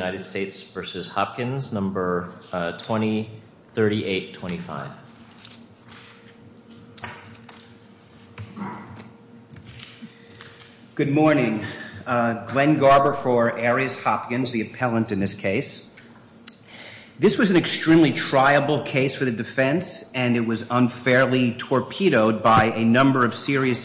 Good morning. Glenn Garber for Arias Hopkins, the appellant in this case. This was an extremely triable case for the defense, and it was unfairly torpedoed by a number of serious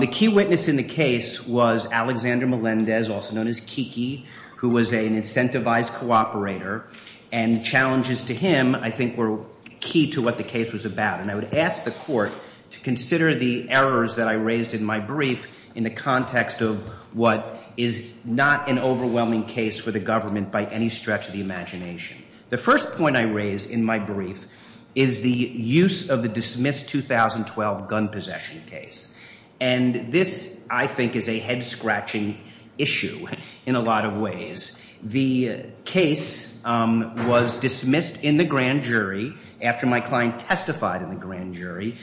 The key witness in the case was Alexander Melendez, also known as Kiki, who was an incentivized cooperator, and challenges to him I think were key to what the case was about. And I would ask the court to consider the errors that I raised in my brief in the context of what is not an overwhelming case for the government by any stretch of the imagination. The first point I raised in my brief is the use of the dismissed 2012 gun possession case. And this I think is a head-scratching issue in a lot of ways. The case was dismissed in the grand jury after my client testified in the grand jury,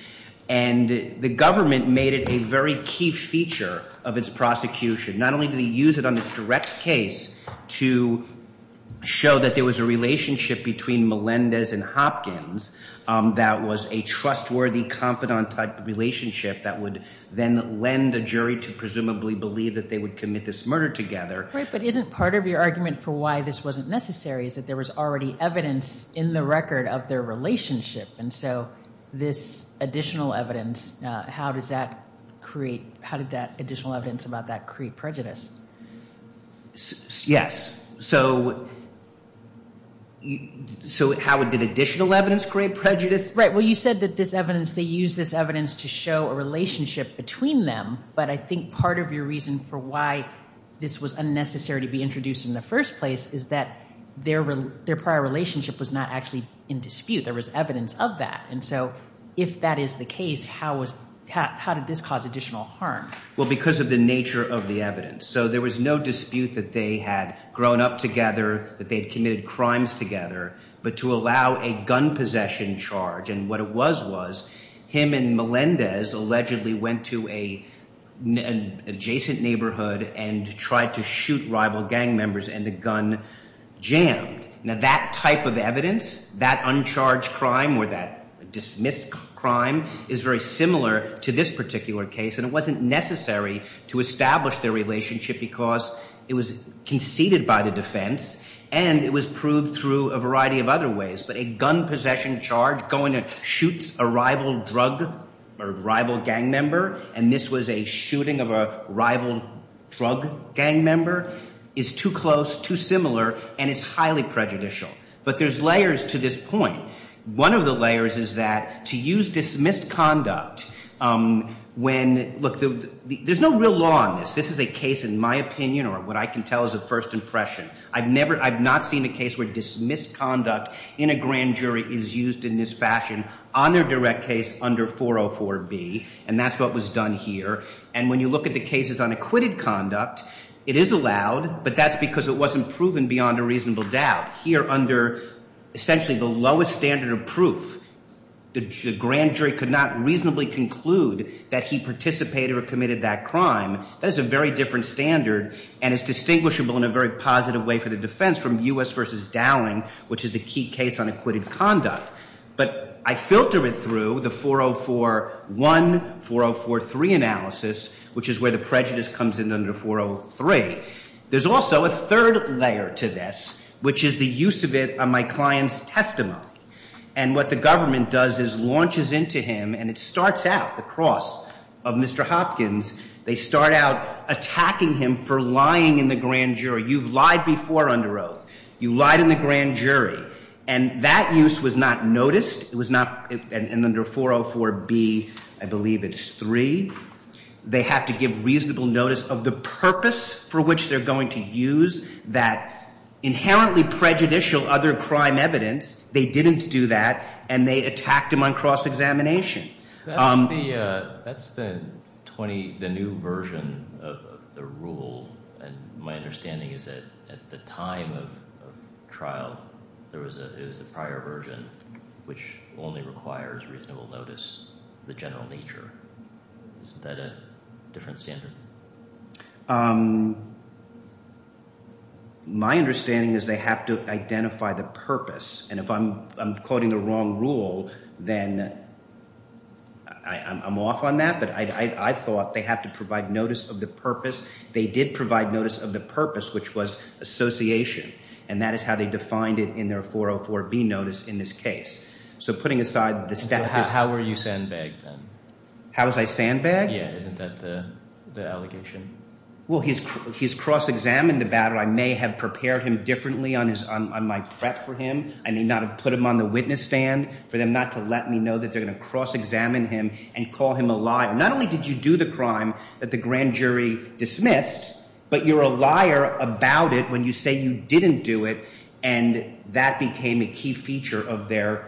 and the government made it a very key feature of its prosecution. Not only did he use it on this direct case to show that there was a relationship between Melendez and Hopkins that was a trustworthy, confidant-type relationship that would then lend a jury to presumably believe that they would commit this murder together. Right, but isn't part of your argument for why this wasn't necessary is that there was already evidence in the record of their relationship. And so this additional evidence, how did that additional evidence about that create prejudice? Yes. So how did additional evidence create prejudice? Right, well you said that this evidence, they used this evidence to show a relationship between them, but I think part of your reason for why this was unnecessary to be introduced in the first place is that their prior relationship was not actually in dispute. There was evidence of that. And so if that is the case, how did this cause additional harm? Well, because of the nature of the evidence. So there was no dispute that they had grown up together, that they had committed crimes together, but to allow a gun possession charge, and what it was was him and Melendez allegedly went to an adjacent neighborhood and tried to shoot rival gang members and the gun jammed. Now that type of evidence, that uncharged crime or that dismissed crime, is very similar to this particular case, and it wasn't necessary to establish their relationship because it was conceded by the defense and it was proved through a variety of other ways. But a gun possession charge going to shoot a rival drug or rival gang member, and this was a shooting of a rival drug gang member, is too close, too similar, and it's highly prejudicial. But there's layers to this point. One of the layers is that to use dismissed conduct when, look, there's no real law on this. This is a case, in my opinion, or what I can tell is a first impression. I've never, I've not seen a case where dismissed conduct in a grand jury is used in this fashion on their direct case under 404B, and that's what was done here. And when you look at the cases on acquitted conduct, it is allowed, but that's because it wasn't proven beyond a reasonable doubt. Here under essentially the lowest standard of proof, the grand jury could not reasonably conclude that he participated or committed that crime. That is a very different standard and is distinguishable in a very positive way for the defense from U.S. v. Dowling, which is the key case on acquitted conduct. But I filter it through the 4041, 4043 analysis, which is where the prejudice comes in under 403. There's also a third layer to this, which is the use of it on my client's testimony. And what the government does is launches into him, and it starts out, the cross of Mr. Hopkins, they start out attacking him for lying in the grand jury. You've lied before under oath. You lied in the grand jury. And that use was not noticed. It was not, and under 404B, I believe it's three, they have to give reasonable notice of the purpose for which they're going to use that inherently prejudicial other crime evidence. They didn't do that, and they attacked him on cross-examination. That's the new version of the rule. And my understanding is that at the time of trial, it was the prior version, which only requires reasonable notice of the general nature. Isn't that a different standard? My understanding is they have to identify the purpose. And if I'm quoting the wrong rule, then I'm off on that. But I thought they have to provide notice of the purpose. They did provide notice of the purpose, which was association. And that is how they defined it in their 404B notice in this case. So putting aside the step. How were you sandbagged then? How was I sandbagged? Yeah. Isn't that the allegation? Well, he's cross-examined about it. I may have prepared him differently on my prep for him. I may not have put him on the witness stand for them not to let me know that they're going to cross-examine him and call him a liar. Not only did you do the crime that the grand jury dismissed, but you're a liar about it when you say you didn't do it. And that became a key feature of their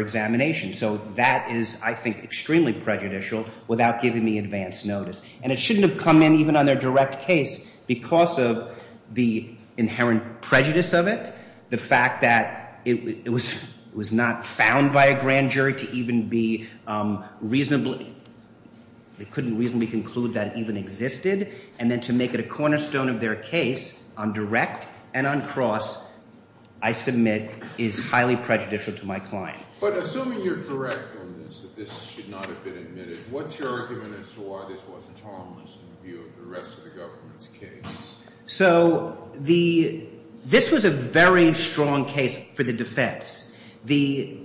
examination. So that is, I think, extremely prejudicial without giving me advance notice. And it shouldn't have come in even on their direct case because of the inherent prejudice of it, the fact that it was not found by a grand jury to even be reasonably—they couldn't reasonably conclude that it even existed. And then to make it a cornerstone of their case on direct and on cross, I submit is highly prejudicial to my client. But assuming you're correct on this, that this should not have been admitted, what's your argument as to why this wasn't harmless in the view of the rest of the government's case? So this was a very strong case for the defense. The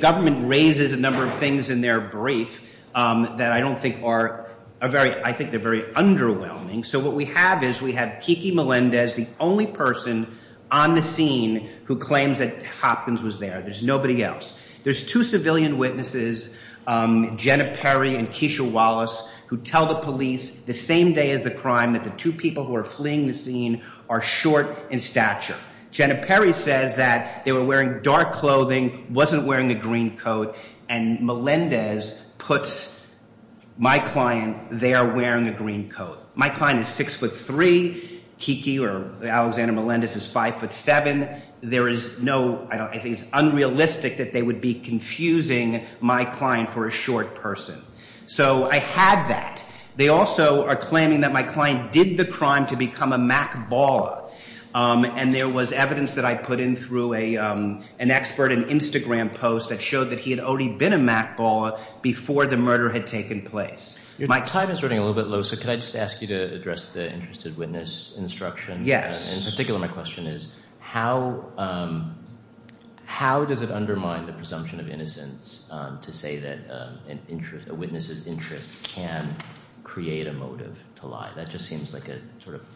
government raises a number of things in their brief that I don't think are—I think they're very underwhelming. So what we have is we have Kiki Melendez, the only person on the scene who claims that Hopkins was there. There's nobody else. There's two civilian witnesses, Jenna Perry and Keisha Wallace, who tell the police the same day of the crime that the two people who are fleeing the scene are short in stature. Jenna Perry says that they were wearing dark clothing, wasn't wearing a green coat, and Melendez puts my client there wearing a green coat. My client is six foot three. Kiki or Alexander Melendez is five foot seven. There is no—I think it's unrealistic that they would be confusing my client for a short person. So I had that. They also are claiming that my client did the crime to a—an expert, an Instagram post that showed that he had already been a mackballer before the murder had taken place. My time is running a little bit low, so could I just ask you to address the interested witness instruction? Yes. In particular, my question is how does it undermine the presumption of innocence to say that a witness's interest can create a motive to lie? That just seems like a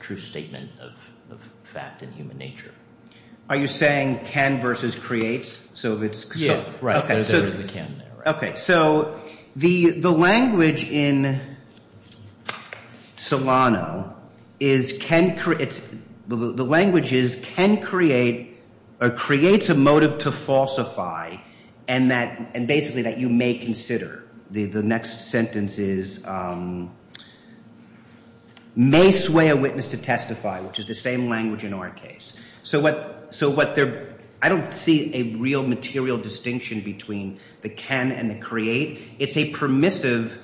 true statement of fact in human nature. Are you saying can versus creates? Yeah. Right. There is a can there. Okay. So the language in Solano is can—the language is can create or creates a motive to falsify and that—and basically that you may consider. The next sentence is may sway a witness to testify, which is the same language in our case. So what—so what they're—I don't see a real material distinction between the can and the create. It's a permissive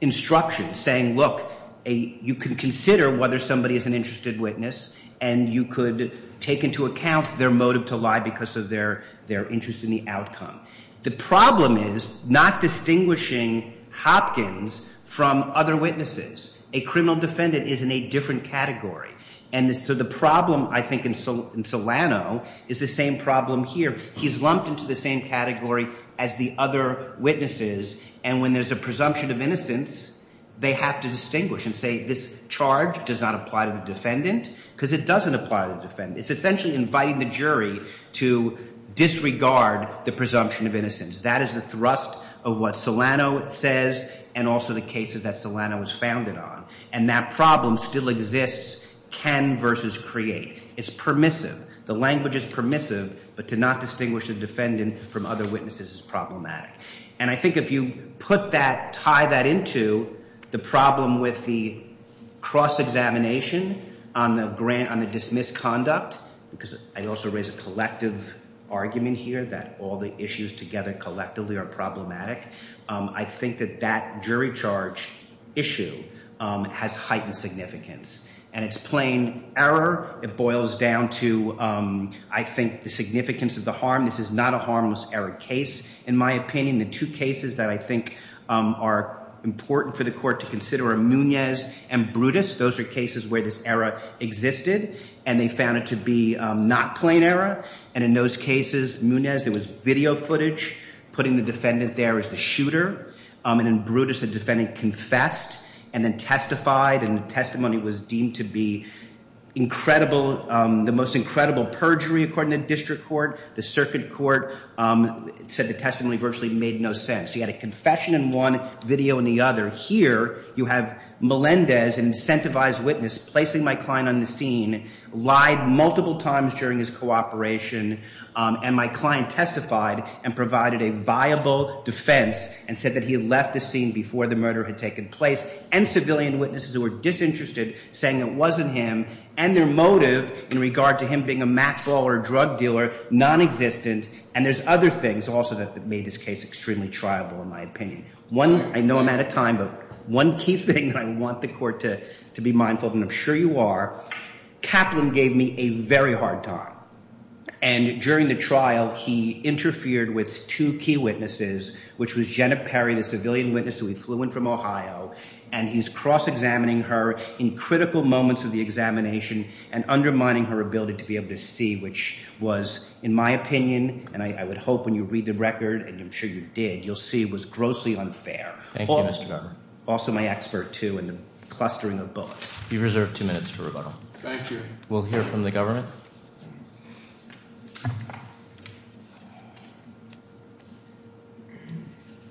instruction saying, look, you can consider whether somebody is an interested witness and you could take into account their motive to lie because of their interest in the outcome. The problem is not distinguishing Hopkins from other witnesses. A criminal defendant is in a different category. And so the problem, I think, in Solano is the same problem here. He's lumped into the same category as the other witnesses, and when there's a presumption of innocence, they have to distinguish and say this charge does not apply to the defendant because it doesn't apply to the defendant. It's essentially inviting the jury to disregard the presumption of innocence. That is the thrust of what Solano says and also the cases that Solano was founded on. And that problem still exists—can versus create. It's permissive. The language is permissive, but to not distinguish the defendant from other witnesses is problematic. And I think if you put that—tie that into the problem with the cross-examination on the grant—on the dismissed conduct, because I also raise a collective argument here that all the issues together collectively are problematic, I think that that jury charge issue has heightened significance. And it's plain error. It boils down to, I think, the significance of the harm. This is not a harmless error case, in my opinion. The two cases that I think are important for the case are the two cases where the harmless error existed and they found it to be not plain error. And in those cases, Munez, there was video footage putting the defendant there as the shooter. And then Brutus, the defendant, confessed and then testified, and testimony was deemed to be incredible—the most incredible perjury according to the district court. The circuit court said the testimony virtually made no sense. He had a confession in one, video in the other. Here, you have Melendez, an incentivized witness, placing my client on the scene, lied multiple times during his cooperation, and my client testified and provided a viable defense and said that he left the scene before the murder had taken place, and civilian witnesses who were disinterested saying it wasn't him, and their motive in regard to him being a mackball or a drug dealer, nonexistent. And there's other things also that made this case extremely triable, in my opinion. I know I'm out of time, but one key thing that I want the court to be mindful of, and I'm sure you are, Kaplan gave me a very hard time. And during the trial, he interfered with two key witnesses, which was Jenna Perry, the civilian witness who he flew in from Ohio, and he's cross-examining her in critical moments of the examination and undermining her ability to be able to see, which was, in my opinion, and I would hope when you read the record, and I'm sure you did, you'll see it was grossly unfair. Thank you, Mr. Governor. Also, my expert, too, in the clustering of bullets. You've reserved two minutes for rebuttal. Thank you. We'll hear from the government.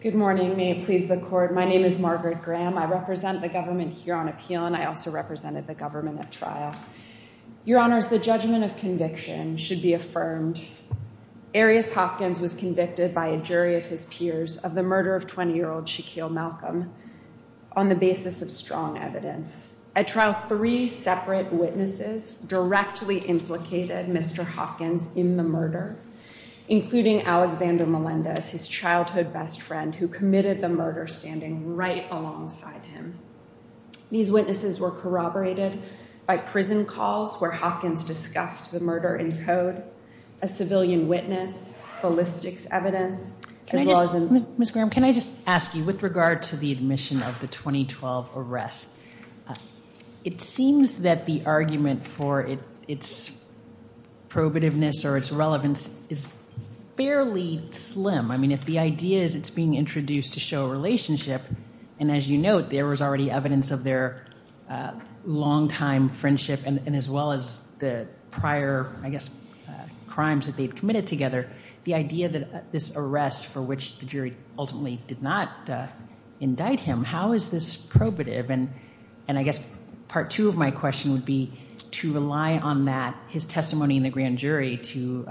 Good morning. May it please the court. My name is Margaret Graham. I represent the government here on appeal, and I also represented the government at trial. Your honors, the judgment of conviction should be affirmed. Arias Hopkins was convicted by a jury of his peers of the murder of 20-year-old Shaquille Malcolm on the basis of strong evidence. At trial, three separate witnesses directly implicated Mr. Hopkins in the murder, including Alexander Melendez, his childhood best friend who committed the murder standing right alongside him. These witnesses were corroborated by prison calls where Hopkins discussed the murder in code, a civilian witness, ballistics evidence, as well as- Ms. Graham, can I just ask you, with regard to the admission of the 2012 arrest, it seems that the argument for its probativeness or its relevance is fairly slim. I mean, if the idea is it's being introduced to show a relationship, and as you note, there was already evidence of their long-time friendship, and as well as the prior, I guess, crimes that they'd committed together, the idea that this arrest for which the jury ultimately did not indict him, how is this probative? And I guess part two of my question would be to rely on that, his testimony in the grand jury, to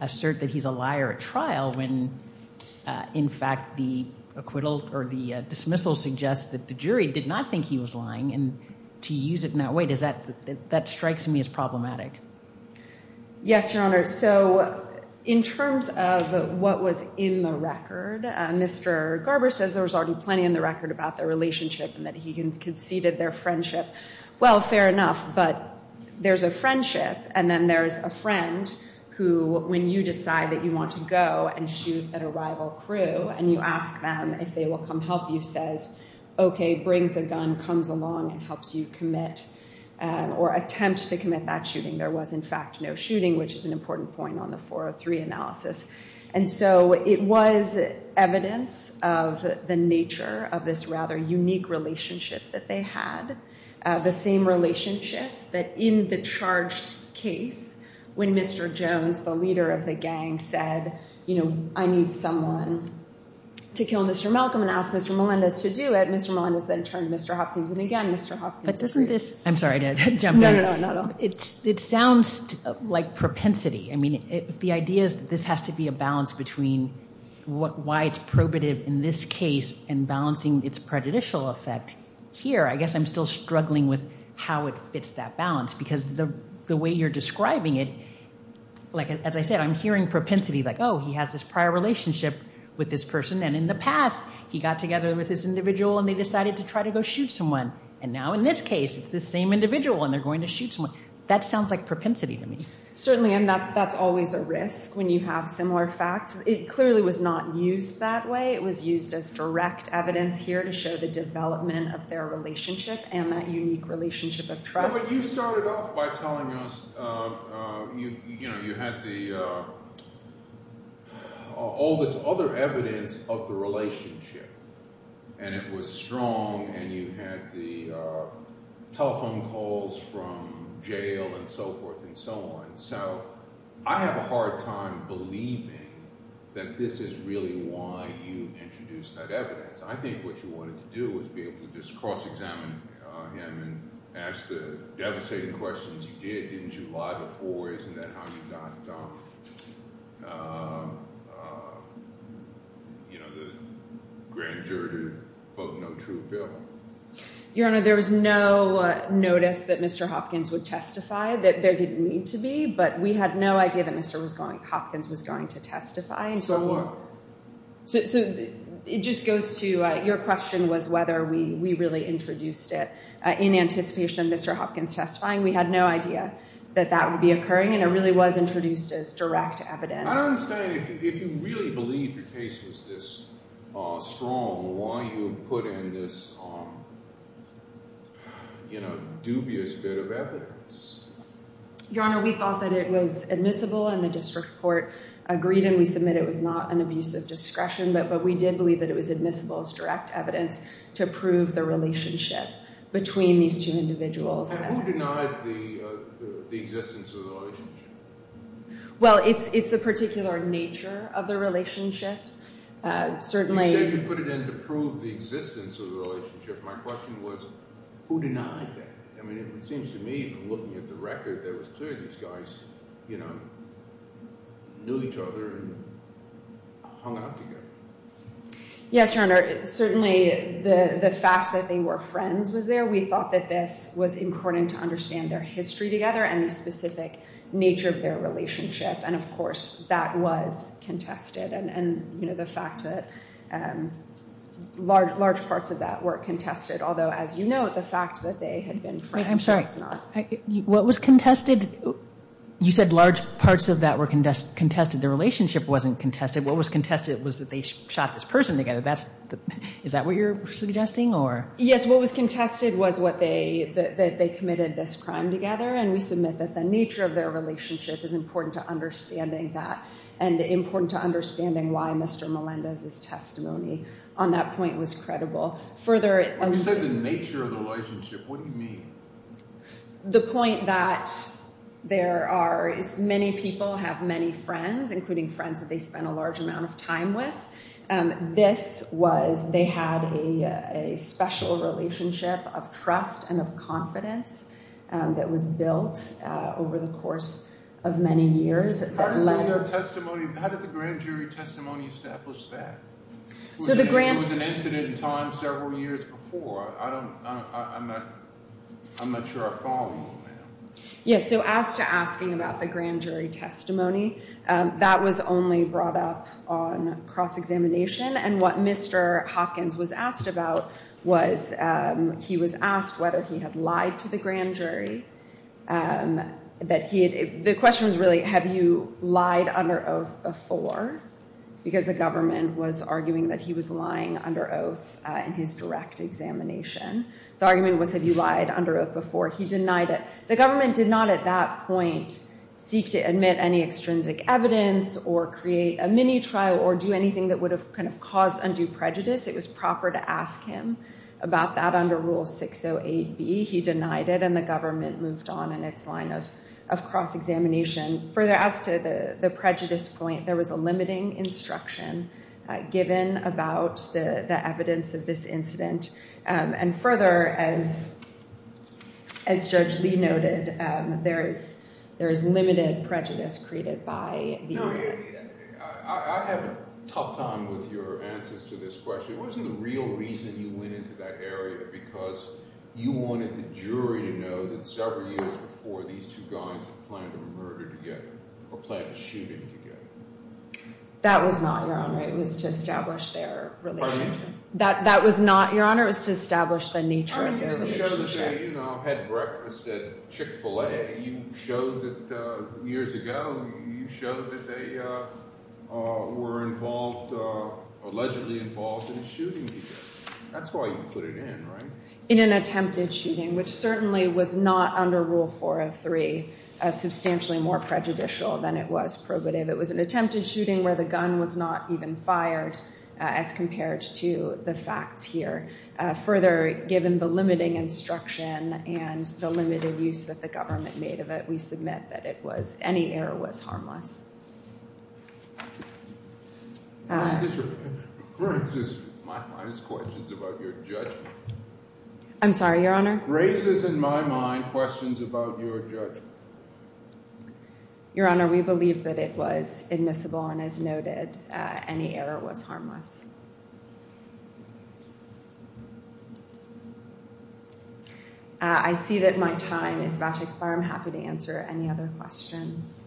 assert that he's a liar at trial when, in fact, the acquittal or the dismissal suggests that the jury did not think he was lying, and to use it in that way, does that- that strikes me as problematic. Yes, Your Honor, so in terms of what was in the record, Mr. Garber says there was already plenty in the record about their relationship and that he conceded their friendship. Well, fair enough, but there's a friendship, and then there's a friend who, when you decide that you want to go and shoot at a rival crew, and you ask them if they will come help you, says, okay, brings a gun, comes along, and helps you commit or attempt to commit that shooting. There was, in fact, no shooting, which is an important point on the 403 analysis, and so it was evidence of the nature of this rather unique relationship that they had, the same relationship that in the I need someone to kill Mr. Malcolm and ask Mr. Melendez to do it. Mr. Melendez then turned Mr. Hopkins, and again, Mr. Hopkins- But doesn't this- I'm sorry, did I jump in? No, no, no, not at all. It sounds like propensity. I mean, the idea is that this has to be a balance between why it's probative in this case and balancing its prejudicial effect here. I guess I'm still struggling with how it fits that balance, because the way you're describing it, like, as I said, I'm hearing propensity, like, oh, he has this prior relationship with this person, and in the past, he got together with this individual, and they decided to try to go shoot someone, and now, in this case, it's the same individual, and they're going to shoot someone. That sounds like propensity to me. Certainly, and that's always a risk when you have similar facts. It clearly was not used that way. It was used as direct evidence here to show the development of their relationship and that unique relationship of trust. But you started off by telling us, you know, you had all this other evidence of the relationship, and it was strong, and you had the telephone calls from jail and so forth and so on. So, I have a hard time believing that this is really why you introduced that evidence. I think what you wanted to do was be alive before. Isn't that how you got, you know, the grand jury to vote no to a bill? Your Honor, there was no notice that Mr. Hopkins would testify that there didn't need to be, but we had no idea that Mr. Hopkins was going to testify. So, it just goes to your question was whether we really introduced it in anticipation of Mr. Hopkins testifying. We had no idea that that would be occurring, and it really was introduced as direct evidence. I don't understand if you really believe your case was this strong, why you put in this, you know, dubious bit of evidence. Your Honor, we thought that it was admissible, and the district court agreed, and we submit it was not an abuse of discretion, but we did believe that it was admissible as the existence of the relationship. Well, it's the particular nature of the relationship, certainly. You said you put it in to prove the existence of the relationship. My question was, who denied that? I mean, it seems to me, from looking at the record, that it was clear these guys, you know, knew each other and hung out together. Yes, Your Honor, certainly the fact that they were friends was there. We thought that this was important to understand their history together and the specific nature of their relationship, and of course, that was contested, and you know, the fact that large parts of that were contested, although as you know, the fact that they had been friends was not. I'm sorry, what was contested? You said large parts of that were contested. The relationship wasn't contested. What was contested was that they shot this person together. Is that what you're suggesting, or? Yes, what was contested was that they committed this crime together, and we submit that the nature of their relationship is important to understanding that, and important to understanding why Mr. Melendez's testimony on that point was credible. You said the nature of the relationship. What do you mean? The point that there are many people have many friends, including friends that they spent a special relationship of trust and of confidence that was built over the course of many years. How did the grand jury testimony establish that? It was an incident in time several years before. I'm not sure I follow you on that. Yes, so as to asking about the grand jury testimony, that was only brought up on cross-examination, and what Mr. Hopkins was asked about was he was asked whether he had lied to the grand jury. The question was really, have you lied under oath before? Because the government was arguing that he was lying under oath in his direct examination. The argument was, have you lied under oath before? He denied it. The government did not at that point seek to admit any extrinsic evidence, or create a mini trial, or do anything that would have caused undue prejudice. It was proper to ask him about that under Rule 608B. He denied it, and the government moved on in its line of cross-examination. Further, as to the prejudice point, there was a limiting instruction given about the evidence of this incident, and further, as Judge Lee noted, there is limited prejudice created by the... I have a tough time with your answers to this question. It wasn't the real reason you went into that area, because you wanted the jury to know that several years before, these two guys had planned a murder together, or planned shooting together. That was not your honor. It was to establish their relationship. Pardon me? That was not your honor. It was to establish the nature of their relationship. You showed that they had breakfast at Chick-fil-A. You showed that years ago, you showed that they were involved, allegedly involved in a shooting together. That's why you put it in, right? In an attempted shooting, which certainly was not under Rule 403, as substantially more prejudicial than it was probative. It was an attempted shooting where the gun was not even fired, as compared to the facts here. Further, given the limiting instruction and the limited use that the government made of it, we submit that any error was harmless. Referring to this, my mind has questions about your judgment. I'm sorry, your honor? Raises in my mind questions about your judgment. Your honor, we believe that it was admissible, and as noted, any error was harmless. I see that my time is about to expire. I'm happy to answer any other questions,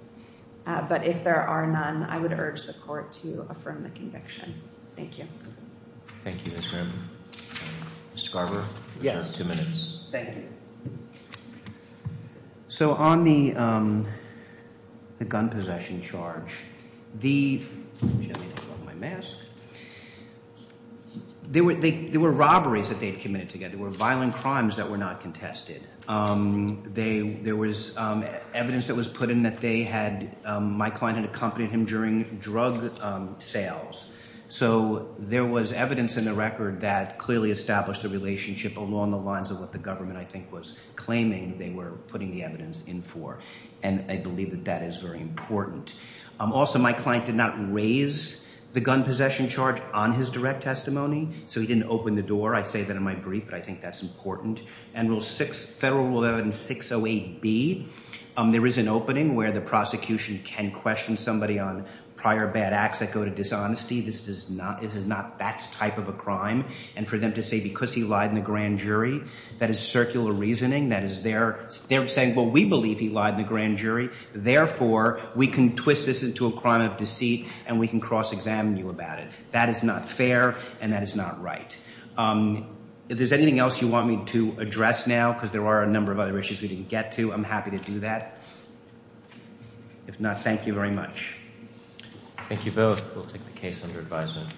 but if there are none, I would urge the court to affirm the conviction. Thank you. Thank you, Mr. Garber. Mr. Garber, you have two minutes. Thank you. So, on the gun possession charge, the, let me take off my mask, there were robberies that they had committed together. There were violent crimes that were not contested. There was evidence that was put in that they had, my client had accompanied him during drug sales. So, there was evidence in the record that clearly established a relationship along the lines of what the government, I think, was claiming they were putting the evidence in for, and I believe that that is very important. Also, my client did not raise the gun possession charge on his direct testimony, so he didn't open the door. I say that in my brief, but I think that's important. And Federal Rule 11-608B, there is an opening where the prosecution can question somebody on prior bad acts that go to dishonesty. This is not, this is not that type of a crime, and for them to say, because he lied in the grand jury, that is circular reasoning. That is their, they're saying, well, we believe he lied in the grand jury, therefore, we can twist this into a crime of deceit, and we can cross-examine you about it. That is not fair, and that is not right. If there's anything else you want me to address now, because there are a number of other issues we didn't get to, I'm happy to do that. If not, thank you very much. Thank you both. We'll take the case under advisement.